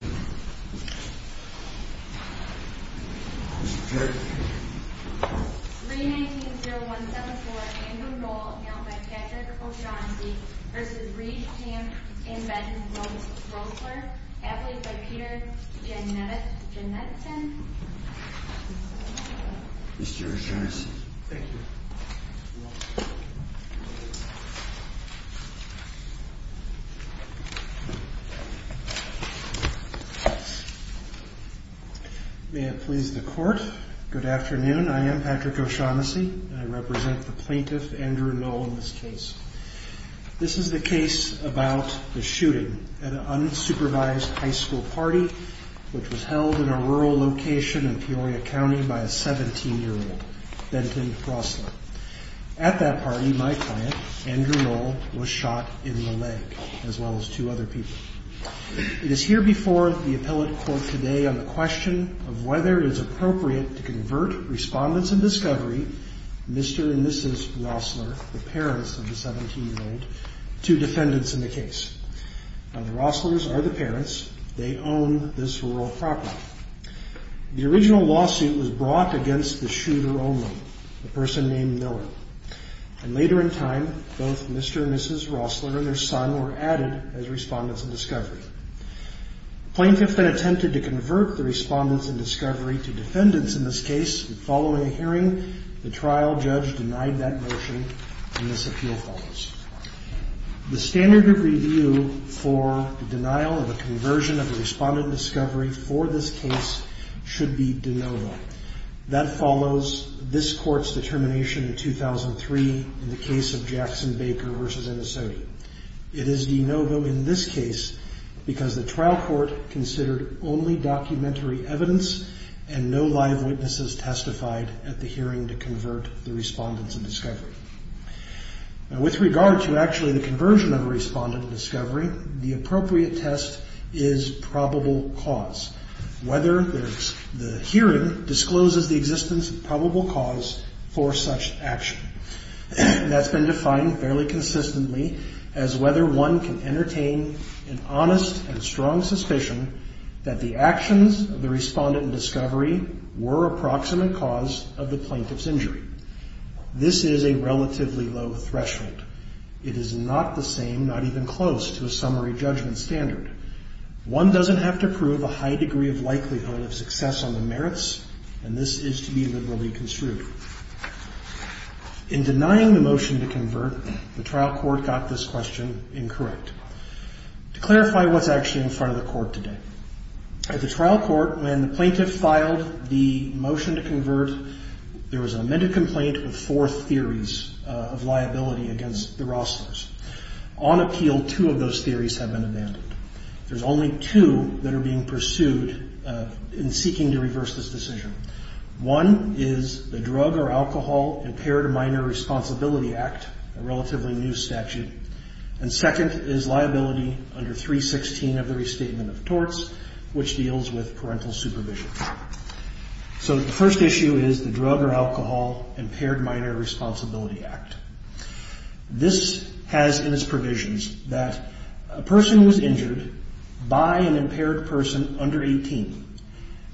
319-0174 Andrew Noll v. Reed, Kemp, and Betts v. Rosler Athlete by Peter Genetichen May it please the court. Good afternoon, I am Patrick O'Shaughnessy and I represent the plaintiff Andrew Noll in this case. This is the case about the shooting at an unsupervised high school party which was held in a rural location in Peoria County by a 17-year-old, Benton Rosler. At that party, my client, Andrew Noll, was shot in the leg as well as two other people. It is here before the appellate court today on the question of whether it is appropriate to convert respondents in discovery, Mr. and Mrs. Rosler, the parents of the 17-year-old, to defendants in the case. Now the Roslers are the parents, they own this rural property. The original lawsuit was brought against the shooter only, a person named Miller. Later in time, both Mr. and Mrs. Rosler and their son were added as respondents in discovery. The plaintiff then attempted to convert the respondents in discovery to defendants in this case. Following a hearing, the trial judge denied that motion and this appeal follows. The standard of review for the denial of a conversion of the respondent in discovery for this case should be de novo. That follows this court's determination in 2003 in the case of Jackson Baker v. Minnesota. It is de novo in this case because the trial court considered only documentary evidence and no live witnesses testified at the hearing to convert the respondents in discovery. Now with regard to actually the conversion of a respondent in discovery, the appropriate test is probable cause. Whether the hearing discloses the existence of probable cause for such action. That's been defined fairly consistently as whether one can entertain an honest and strong suspicion that the actions of the respondent in discovery were approximate cause of the plaintiff's injury. This is a relatively low threshold. It is not the same, not even close to a summary judgment standard. One doesn't have to prove a high degree of likelihood of success on the merits and this is to be literally construed. In denying the motion to convert, the trial court got this question incorrect. To clarify what's actually in front of the court today. At the trial court, when the plaintiff filed the motion to convert, there was an amended complaint with four theories of liability against the Rosslers. On appeal, two of those theories have been abandoned. There's only two that are being pursued in seeking to reverse this decision. One is the drug or alcohol impaired minor responsibility act, a relatively new statute. And second is liability under 316 of the restatement of torts, which deals with parental supervision. So the first issue is the drug or alcohol impaired minor responsibility act. This has in its provisions that a person who's injured by an impaired person under 18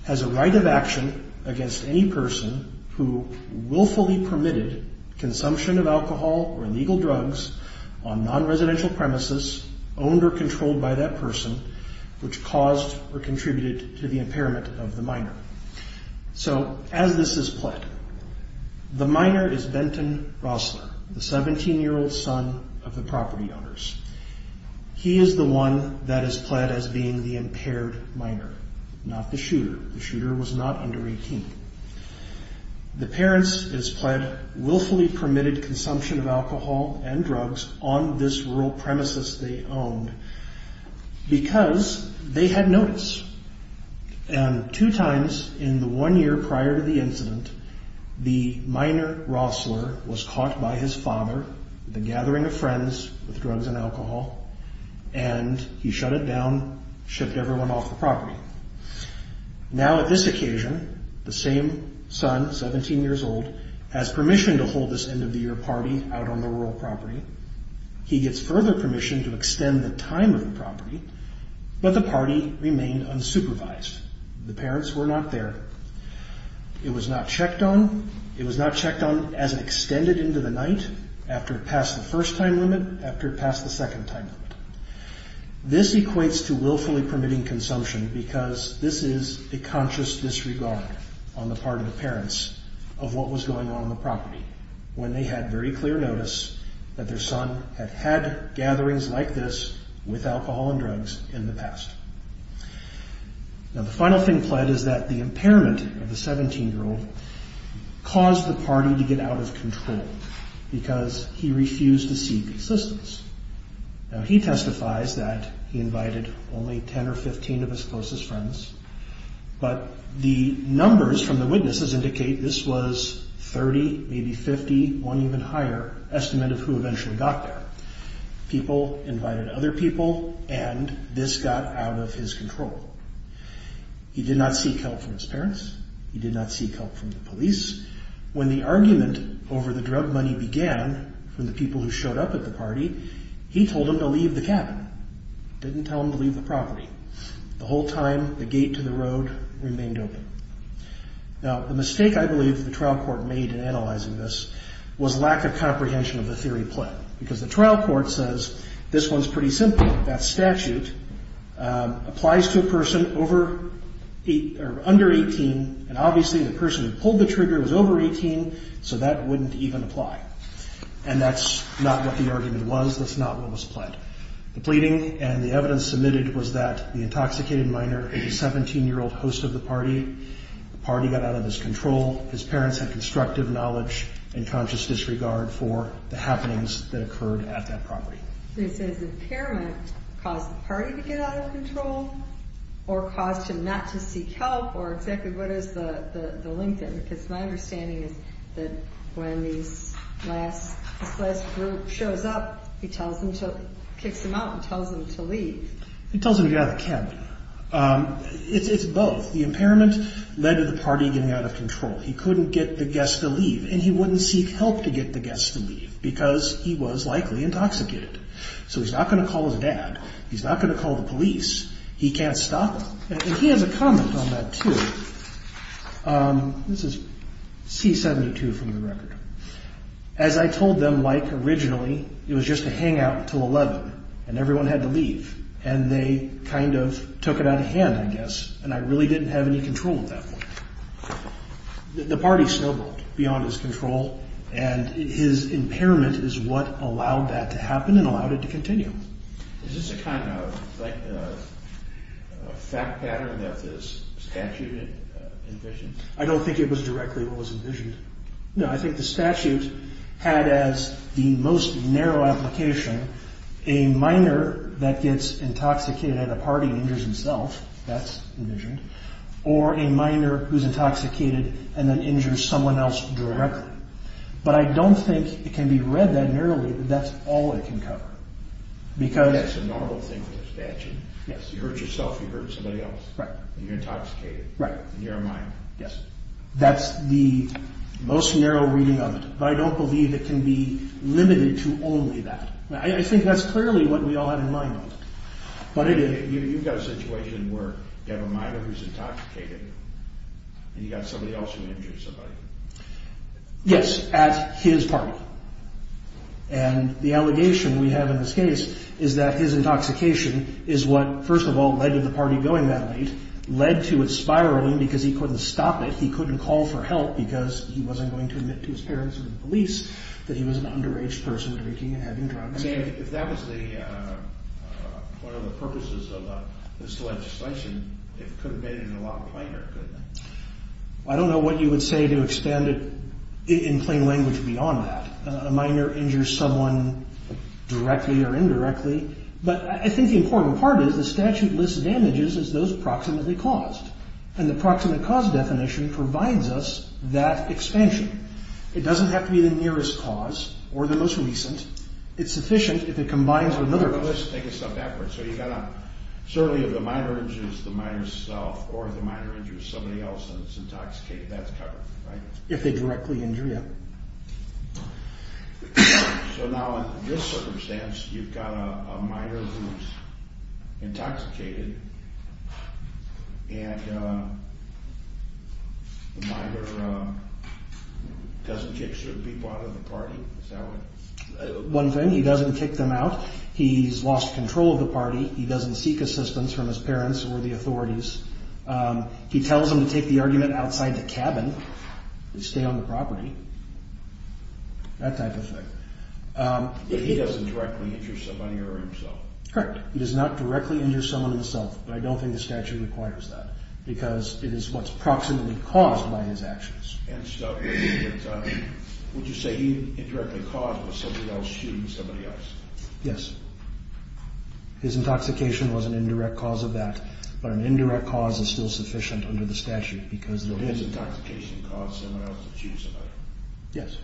has a right of action against any person who willfully permitted consumption of alcohol or illegal drugs on non-residential premises, owned or controlled by that person, which caused or contributed to the impairment of the minor. So as this is pled, the minor is Benton Rossler, the 17-year-old son of the property owners. He is the one that is pled as being the impaired minor, not the shooter. The shooter was not under 18. The parents is pled willfully permitted consumption of alcohol and drugs on this rural premises they owned because they had notice. And two times in the one year prior to the incident, the minor Rossler was caught by his father with a gathering of friends with drugs and alcohol. And he shut it down, shipped everyone off the property. Now, at this occasion, the same son, 17 years old, has permission to hold this end of the year party out on the rural property. He gets further permission to extend the time of the property, but the party remained unsupervised. The parents were not there. It was not checked on. It was not checked on as it extended into the night after it passed the first time limit, after it passed the second time limit. This equates to willfully permitting consumption because this is a conscious disregard on the part of the parents of what was going on on the property when they had very clear notice that their son had had gatherings like this with alcohol and drugs in the past. Now, the final thing pled is that the impairment of the 17-year-old caused the party to get out of control because he refused to seek assistance. Now, he testifies that he invited only 10 or 15 of his closest friends, but the numbers from the witnesses indicate this was 30, maybe 50, one even higher, estimate of who eventually got there. People invited other people, and this got out of his control. He did not seek help from his parents. He did not seek help from the police. When the argument over the drug money began from the people who showed up at the party, he told them to leave the cabin. He didn't tell them to leave the property. The whole time, the gate to the road remained open. Now, the mistake I believe the trial court made in analyzing this was lack of comprehension of the theory pled because the trial court says this one's pretty simple. That statute applies to a person under 18, and obviously the person who pulled the trigger was over 18, so that wouldn't even apply. And that's not what the argument was. That's not what was pled. The pleading and the evidence submitted was that the intoxicated minor, the 17-year-old host of the party, the party got out of his control. His parents had constructive knowledge and conscious disregard for the happenings that occurred at that property. This impairment caused the party to get out of control, or caused him not to seek help, or exactly what is the link there? Because my understanding is that when this last group shows up, he tells them to kick them out and tells them to leave. He tells them to get out of the cabin. It's both. The impairment led to the party getting out of control. He couldn't get the guests to leave, and he wouldn't seek help to get the guests to leave because he was likely intoxicated. So he's not going to call his dad. He's not going to call the police. He can't stop them. And he has a comment on that too. This is C-72 from the record. As I told them, Mike, originally it was just a hangout until 11, and everyone had to leave. And they kind of took it out of hand, I guess, and I really didn't have any control at that point. The party snowballed beyond his control, and his impairment is what allowed that to happen and allowed it to continue. Is this a kind of like a fact pattern that this statute envisioned? I don't think it was directly what was envisioned. No, I think the statute had as the most narrow application a minor that gets intoxicated and the party injures himself. That's envisioned. Or a minor who's intoxicated and then injures someone else directly. But I don't think it can be read that narrowly that that's all it can cover. Yes, it's a normal thing for the statute. Yes. You hurt yourself, you hurt somebody else. Right. And you're intoxicated. Right. And you're a minor. Yes. That's the most narrow reading of it. But I don't believe it can be limited to only that. I think that's clearly what we all had in mind. You've got a situation where you have a minor who's intoxicated, and you've got somebody else who injures somebody. Yes, at his party. And the allegation we have in this case is that his intoxication is what, first of all, led to the party going that late, led to it spiraling because he couldn't stop it. He couldn't call for help because he wasn't going to admit to his parents or the police that he was an underage person drinking and having drugs. If that was one of the purposes of this legislation, it could have been in the law of a minor, couldn't it? I don't know what you would say to expand it in plain language beyond that. A minor injures someone directly or indirectly. But I think the important part is the statute lists damages as those proximately caused. And the proximate cause definition provides us that expansion. It doesn't have to be the nearest cause or the most recent. It's sufficient if it combines with another cause. Let's take a step backwards. So you've got to – certainly if the minor injures the minor's self or the minor injures somebody else and is intoxicated, that's covered, right? If they directly injure you. So now in this circumstance, you've got a minor who's intoxicated and the minor doesn't kick certain people out of the party. Is that what – One thing, he doesn't kick them out. He's lost control of the party. He doesn't seek assistance from his parents or the authorities. He tells them to take the argument outside the cabin and stay on the property, that type of thing. But he doesn't directly injure somebody or himself? Correct. He does not directly injure someone himself. But I don't think the statute requires that because it is what's proximately caused by his actions. And so would you say he indirectly caused it was somebody else shooting somebody else? Yes. His intoxication was an indirect cause of that. But an indirect cause is still sufficient under the statute because – His intoxication caused someone else to shoot somebody. Yes.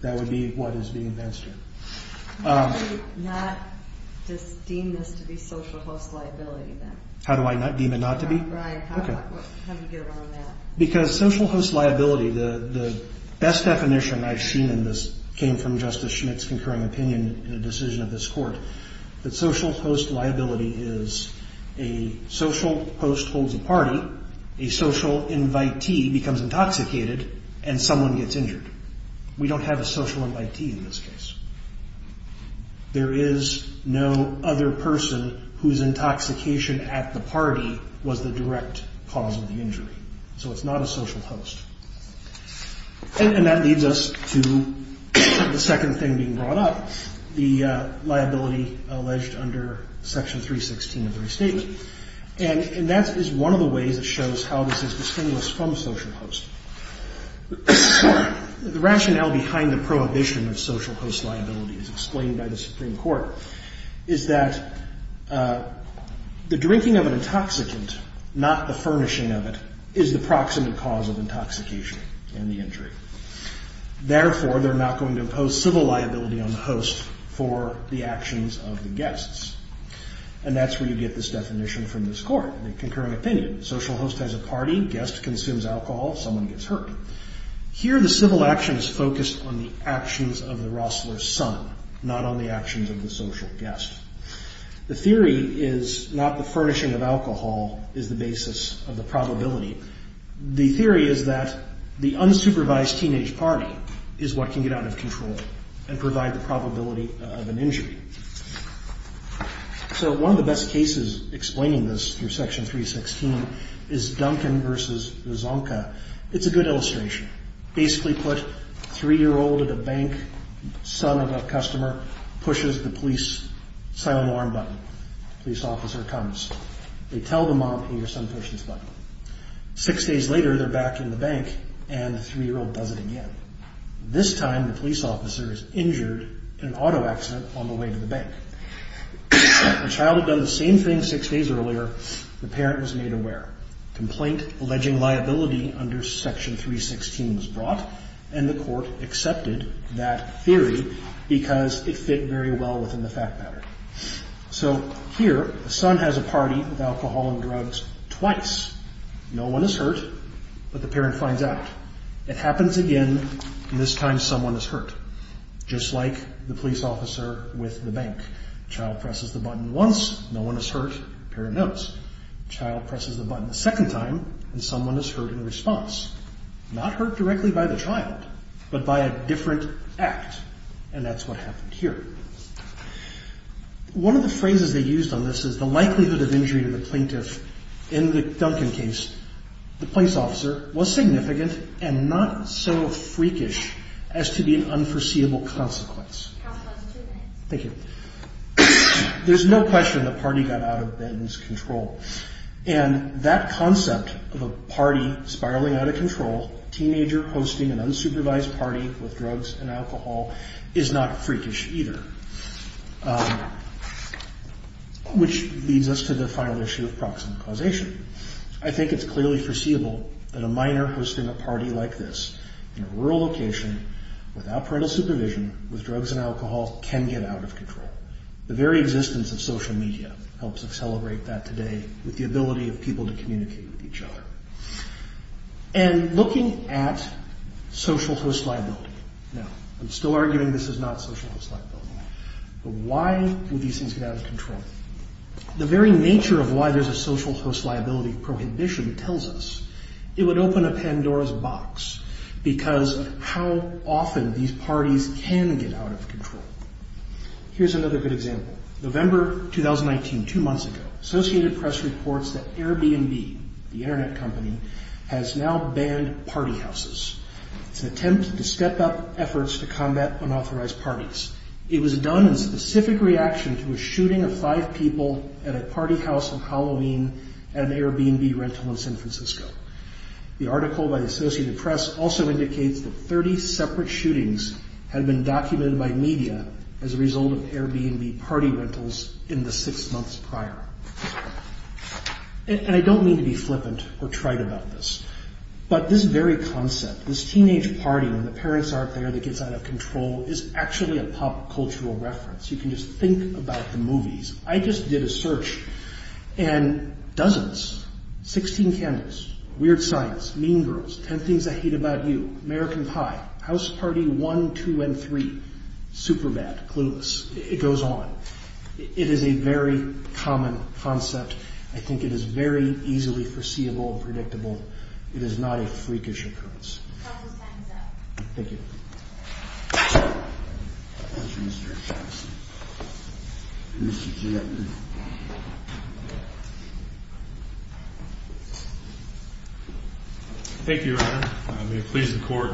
That would be what is being advanced here. How do you not just deem this to be social host liability then? How do I deem it not to be? Right. Okay. How do you get around that? Because social host liability, the best definition I've seen in this came from Justice Schmitt's concurring opinion in a decision of this court, that social host liability is a social host holds a party, a social invitee becomes intoxicated, and someone gets injured. We don't have a social invitee in this case. There is no other person whose intoxication at the party was the direct cause of the injury. So it's not a social host. And that leads us to the second thing being brought up, the liability alleged under Section 316 of the Restatement. And that is one of the ways it shows how this is distinguished from social host. The rationale behind the prohibition of social host liability as explained by the Supreme Court is that the drinking of an intoxicant, not the furnishing of it, is the proximate cause of intoxication and the injury. Therefore, they're not going to impose civil liability on the host for the actions of the guests. And that's where you get this definition from this court, the concurring opinion. Social host has a party, guest consumes alcohol, someone gets hurt. Here the civil action is focused on the actions of the Rossler's son, not on the actions of the social guest. The theory is not the furnishing of alcohol is the basis of the probability. The theory is that the unsupervised teenage party is what can get out of control and provide the probability of an injury. So one of the best cases explaining this through Section 316 is Duncan v. Zonka. It's a good illustration. Basically put, three-year-old at a bank, son of a customer, pushes the police silent alarm button. The police officer comes. They tell the mom, hey, your son pushed this button. Six days later, they're back in the bank and the three-year-old does it again. This time, the police officer is injured in an auto accident on the way to the bank. The child had done the same thing six days earlier. The parent was made aware. Complaint alleging liability under Section 316 was brought, and the court accepted that theory because it fit very well within the fact pattern. So here, the son has a party with alcohol and drugs twice. No one is hurt, but the parent finds out. It happens again, and this time someone is hurt, just like the police officer with the bank. The child presses the button once. No one is hurt. The parent knows. The child presses the button a second time, and someone is hurt in response. Not hurt directly by the child, but by a different act, and that's what happened here. One of the phrases they used on this is the likelihood of injury to the plaintiff. In the Duncan case, the police officer was significant and not so freakish as to be an unforeseeable consequence. Thank you. There's no question the party got out of Ben's control, and that concept of a party spiraling out of control, a teenager hosting an unsupervised party with drugs and alcohol, is not freakish either, which leads us to the final issue of proximate causation. I think it's clearly foreseeable that a minor hosting a party like this in a rural location, without parental supervision, with drugs and alcohol, can get out of control. The very existence of social media helps us celebrate that today with the ability of people to communicate with each other. And looking at social host liability, now, I'm still arguing this is not social host liability, but why would these things get out of control? The very nature of why there's a social host liability prohibition tells us it would open a Pandora's box because of how often these parties can get out of control. Here's another good example. November 2019, two months ago, Associated Press reports that Airbnb, the Internet company, has now banned party houses. It's an attempt to step up efforts to combat unauthorized parties. It was done in specific reaction to a shooting of five people at a party house on Halloween at an Airbnb rental in San Francisco. The article by the Associated Press also indicates that 30 separate shootings had been documented by media as a result of Airbnb party rentals in the six months prior. And I don't mean to be flippant or trite about this, but this very concept, this teenage party when the parents aren't there that gets out of control, is actually a pop cultural reference. You can just think about the movies. I just did a search and dozens, 16 candles, weird signs, mean girls, 10 things I hate about you, American Pie, House Party 1, 2, and 3, super bad, clueless, it goes on. It is a very common concept. I think it is very easily foreseeable and predictable. It is not a freakish occurrence. Thank you. Thank you, Your Honor. May it please the Court,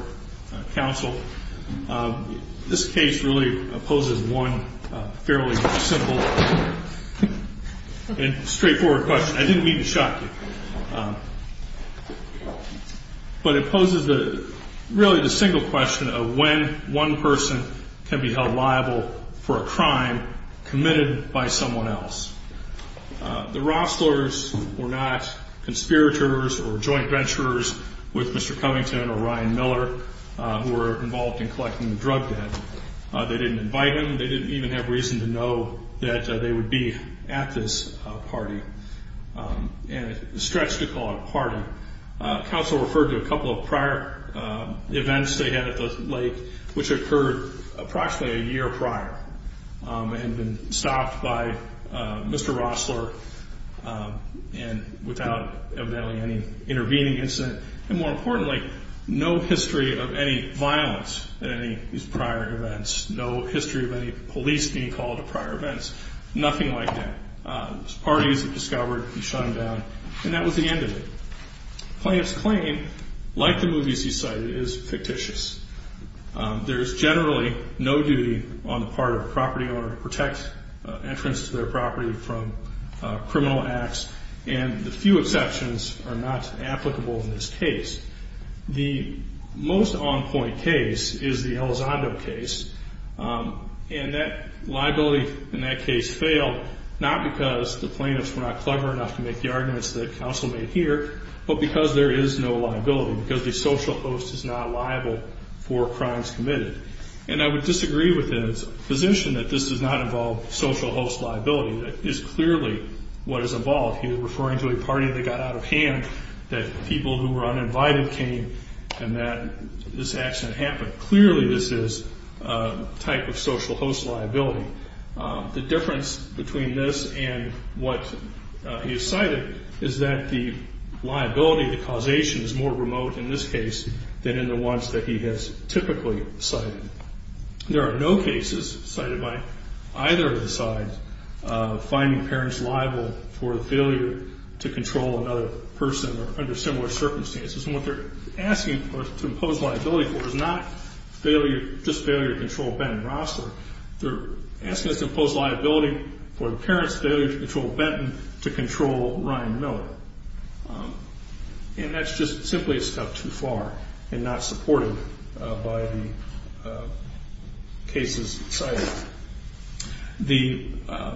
Counsel. This case really opposes one fairly simple and straightforward question. I didn't mean to shock you. But it poses really the single question of when one person can be held liable for a crime committed by someone else. The Rosslers were not conspirators or joint venturers with Mr. Covington or Ryan Miller who were involved in collecting the drug debt. They didn't invite him. They didn't even have reason to know that they would be at this party. And it's a stretch to call it a party. Counsel referred to a couple of prior events they had at the lake, which occurred approximately a year prior and been stopped by Mr. Rossler and without evidently any intervening incident. And more importantly, no history of any violence at any of these prior events, no history of any police being called to prior events, nothing like that. It was parties that discovered and shut him down. And that was the end of it. Plaintiff's claim, like the movies he cited, is fictitious. There is generally no duty on the part of a property owner to protect entrance to their property from criminal acts, and the few exceptions are not applicable in this case. The most on-point case is the Elizondo case. And that liability in that case failed, not because the plaintiffs were not clever enough to make the arguments that counsel made here, but because there is no liability, because the social host is not liable for crimes committed. And I would disagree with his position that this does not involve social host liability. That is clearly what is involved here, referring to a party that got out of hand, that people who were uninvited came, and that this accident happened. Clearly, this is a type of social host liability. The difference between this and what he has cited is that the liability, the causation, is more remote in this case than in the ones that he has typically cited. There are no cases cited by either of the sides finding parents liable for failure to control another person under similar circumstances. And what they're asking to impose liability for is not just failure to control Benton Rossler. They're asking us to impose liability for the parents' failure to control Benton to control Ryan Miller. And that's just simply a step too far and not supported by the cases cited. The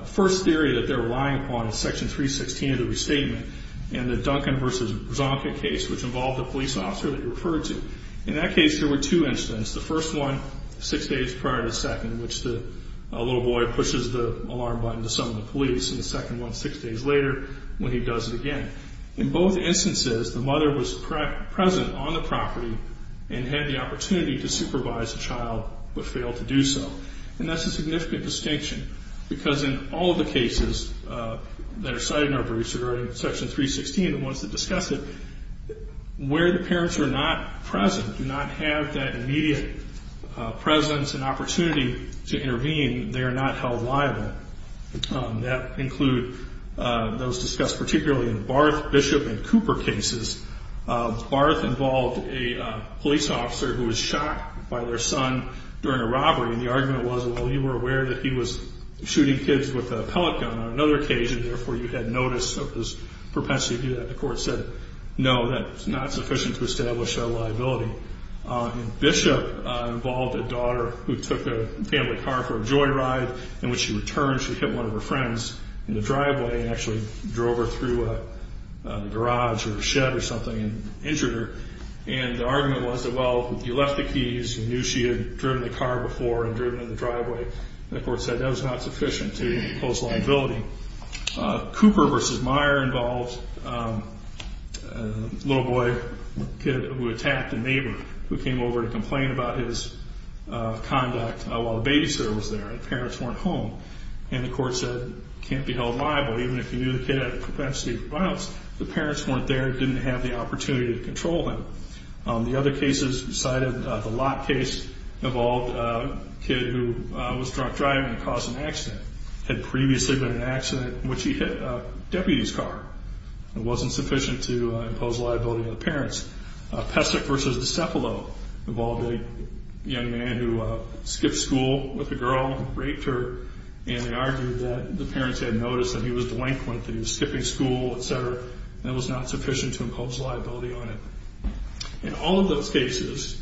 first theory that they're relying upon is Section 316 of the Restatement. And the Duncan v. Brzonka case, which involved a police officer that he referred to. In that case, there were two incidents. The first one, six days prior to the second, in which the little boy pushes the alarm button to summon the police. And the second one, six days later, when he does it again. In both instances, the mother was present on the property and had the opportunity to supervise the child but failed to do so. And that's a significant distinction because in all of the cases that are in Section 316, the ones that discuss it, where the parents are not present, do not have that immediate presence and opportunity to intervene, they are not held liable. That includes those discussed particularly in Barth, Bishop, and Cooper cases. Barth involved a police officer who was shot by their son during a robbery. And the argument was, well, you were aware that he was shooting kids with a propensity to do that. The court said, no, that's not sufficient to establish a liability. Bishop involved a daughter who took a family car for a joyride. And when she returned, she hit one of her friends in the driveway and actually drove her through a garage or a shed or something and injured her. And the argument was that, well, you left the keys. You knew she had driven the car before and driven in the driveway. The court said that was not sufficient to impose liability. Cooper v. Meyer involved a little boy, a kid who attacked a neighbor who came over to complain about his conduct while the babysitter was there. The parents weren't home. And the court said, can't be held liable even if you knew the kid had a propensity for violence. The parents weren't there and didn't have the opportunity to control him. The other cases, besides the lot case, involved a kid who was drunk driving and caused an accident. Had previously been in an accident in which he hit a deputy's car. It wasn't sufficient to impose liability on the parents. Pesek v. DiCepolo involved a young man who skipped school with a girl and raped her. And they argued that the parents had noticed that he was delinquent, that he was skipping school, et cetera, and it was not sufficient to impose liability on him. And all of those cases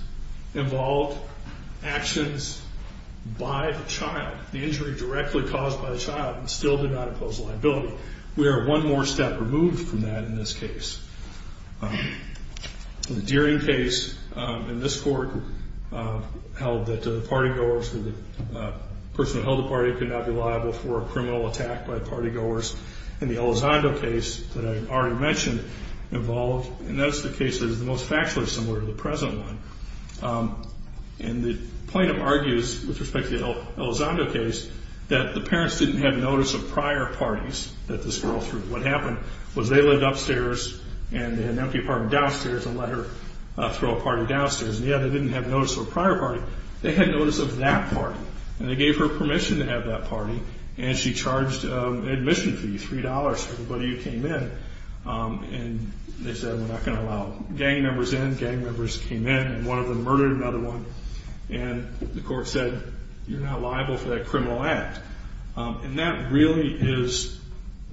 involved actions by the child. The injury directly caused by the child still did not impose liability. We are one more step removed from that in this case. The Deering case in this court held that the party goers, the person who held the party could not be liable for a criminal attack by party goers. And the Elizondo case that I already mentioned involved, and that's the case that is the most factually similar to the present one. And the plaintiff argues with respect to the Elizondo case that the parents didn't have notice of prior parties that this girl threw. What happened was they lived upstairs and they had an empty apartment downstairs and let her throw a party downstairs. And yet they didn't have notice of a prior party. They had notice of that party. And they gave her permission to have that party. And she charged an admission fee, $3, for the buddy who came in. And they said, we're not going to allow gang members in. Gang members came in and one of them murdered another one. And the court said, you're not liable for that criminal act. And that really is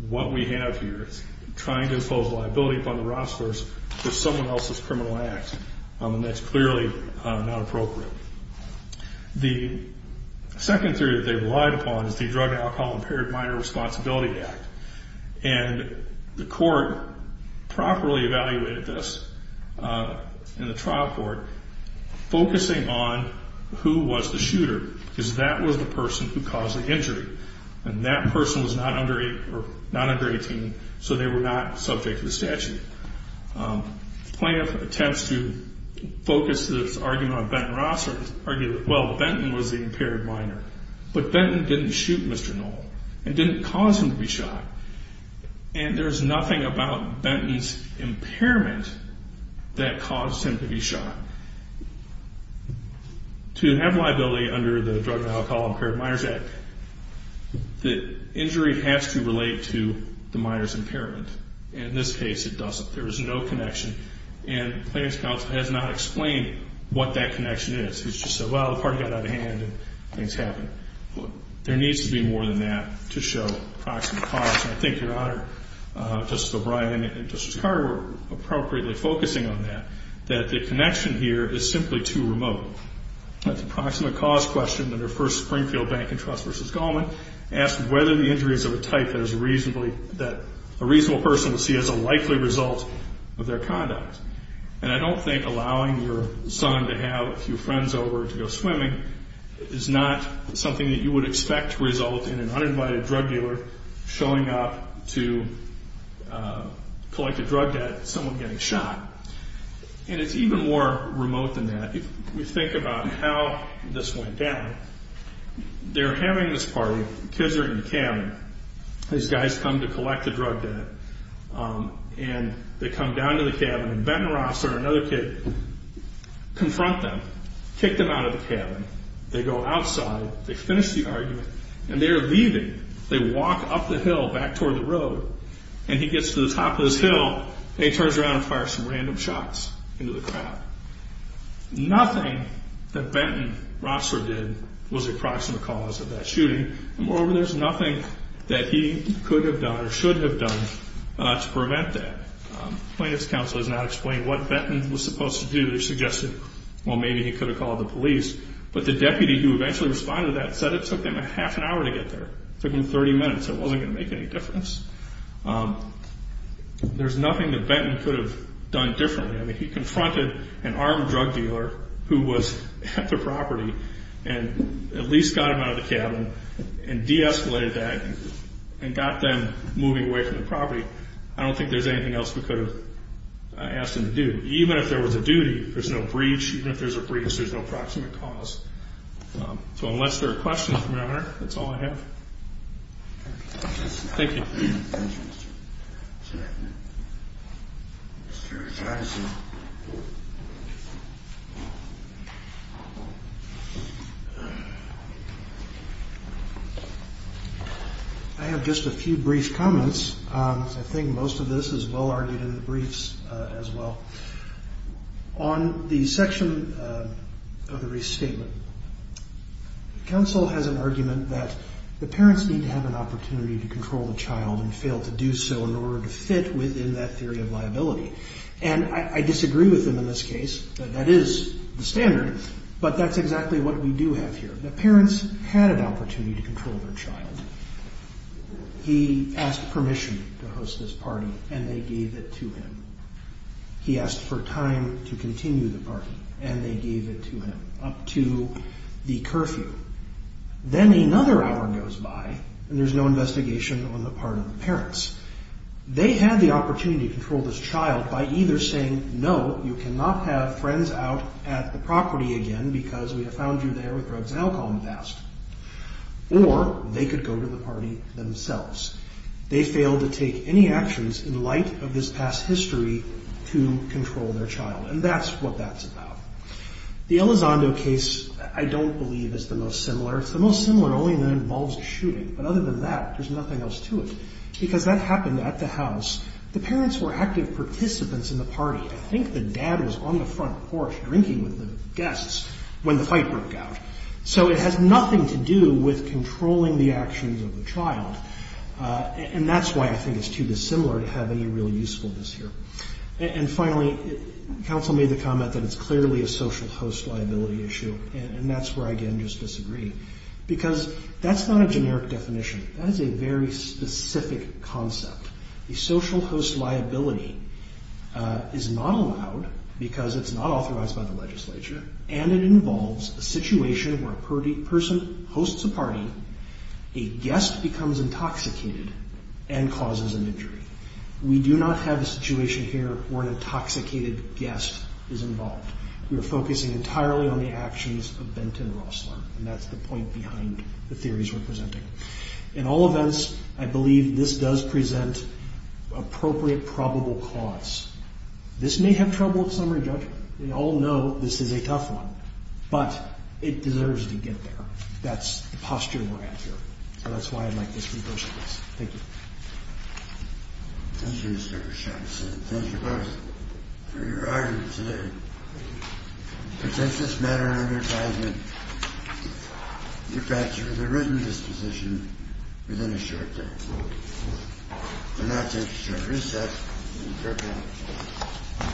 what we have here is trying to impose liability upon the Roslers for someone else's criminal act. And that's clearly not appropriate. The second theory that they relied upon is the Drug, Alcohol, Impaired Minor Responsibility Act. And the court properly evaluated this in the trial court, focusing on who was the shooter. Because that was the person who caused the injury. And that person was not under 18, so they were not subject to the statute. Plaintiff attempts to focus this argument on Benton Rosler, argue that, well, Benton was the impaired minor. But Benton didn't shoot Mr. Knoll and didn't cause him to be shot. And there's nothing about Benton's impairment that caused him to be shot. To have liability under the Drug, Alcohol, Impaired Minor Act, the injury has to relate to the minor's impairment. In this case, it doesn't. There is no connection. And plaintiff's counsel has not explained what that connection is. He's just said, well, the party got out of hand and things happened. There needs to be more than that to show proximate cause. And I think Your Honor, Justice O'Brien and Justice Carter were appropriately focusing on that, that the connection here is simply too remote. That's a proximate cause question under First Springfield Bank and Trust v. Goldman. It asks whether the injury is of a type that a reasonable person would see as a likely result of their conduct. And I don't think allowing your son to have a few friends over to go swimming is not something that you would expect to result in an uninvited drug dealer showing up to collect a drug debt and someone getting shot. And it's even more remote than that. If we think about how this went down, they're having this party. The kids are in the cabin. These guys come to collect the drug debt. And they come down to the cabin. And Benton Rossler, another kid, confront them, kick them out of the cabin. They go outside. They finish the argument. And they're leaving. They walk up the hill back toward the road. And he gets to the top of this hill and he turns around and fires some random shots into the crowd. Nothing that Benton Rossler did was a proximate cause of that shooting. Moreover, there's nothing that he could have done or should have done to prevent that. Plaintiff's counsel has not explained what Benton was supposed to do. They suggested, well, maybe he could have called the police. But the deputy who eventually responded to that said it took them a half an hour to get there. It took them 30 minutes. It wasn't going to make any difference. There's nothing that Benton could have done differently. I mean, he confronted an armed drug dealer who was at the property and at least got him out of the cabin and de-escalated that and got them moving away from the property. I don't think there's anything else we could have asked him to do. Even if there was a duty, there's no breach. Even if there's a breach, there's no proximate cause. So unless there are questions, Your Honor, that's all I have. Thank you. Thank you, Mr. Chapman. Mr. Patterson. I have just a few brief comments. I think most of this is well-argued in the briefs as well. On the section of the restatement, counsel has an argument that the parents need to have an opportunity to control the child and fail to do so in order to fit within that theory of liability. And I disagree with them in this case. That is the standard. But that's exactly what we do have here. The parents had an opportunity to control their child. He asked permission to host this party, and they gave it to him. He asked for time to continue the party, and they gave it to him, up to the curfew. Then another hour goes by, and there's no investigation on the part of the parents. They had the opportunity to control this child by either saying, no, you cannot have friends out at the property again because we have found you there with drugs and alcohol in the past, or they could go to the party themselves. They failed to take any actions in light of this past history to control their child, and that's what that's about. The Elizondo case, I don't believe, is the most similar. It's the most similar only that it involves a shooting. But other than that, there's nothing else to it because that happened at the house. The parents were active participants in the party. I think the dad was on the front porch drinking with the guests when the fight broke out. So it has nothing to do with controlling the actions of the child, and that's why I think it's too dissimilar to have any real usefulness here. And finally, counsel made the comment that it's clearly a social host liability issue, and that's where I again just disagree because that's not a generic definition. That is a very specific concept. A social host liability is not allowed because it's not authorized by the legislature, and it involves a situation where a person hosts a party, a guest becomes intoxicated, and causes an injury. We do not have a situation here where an intoxicated guest is involved. We are focusing entirely on the actions of Benton Rossler, and that's the point behind the theories we're presenting. In all events, I believe this does present appropriate probable cause. This may have trouble with summary judgment. We all know this is a tough one, but it deserves to get there. That's the posture we're at here, and that's why I'd like this to go like this. Thank you. Thank you, Mr. Richardson. Thank you both for your argument today. We take this matter under advisement. We'll get back to you with a written disposition within a short time. We'll now take a short recess. Be careful.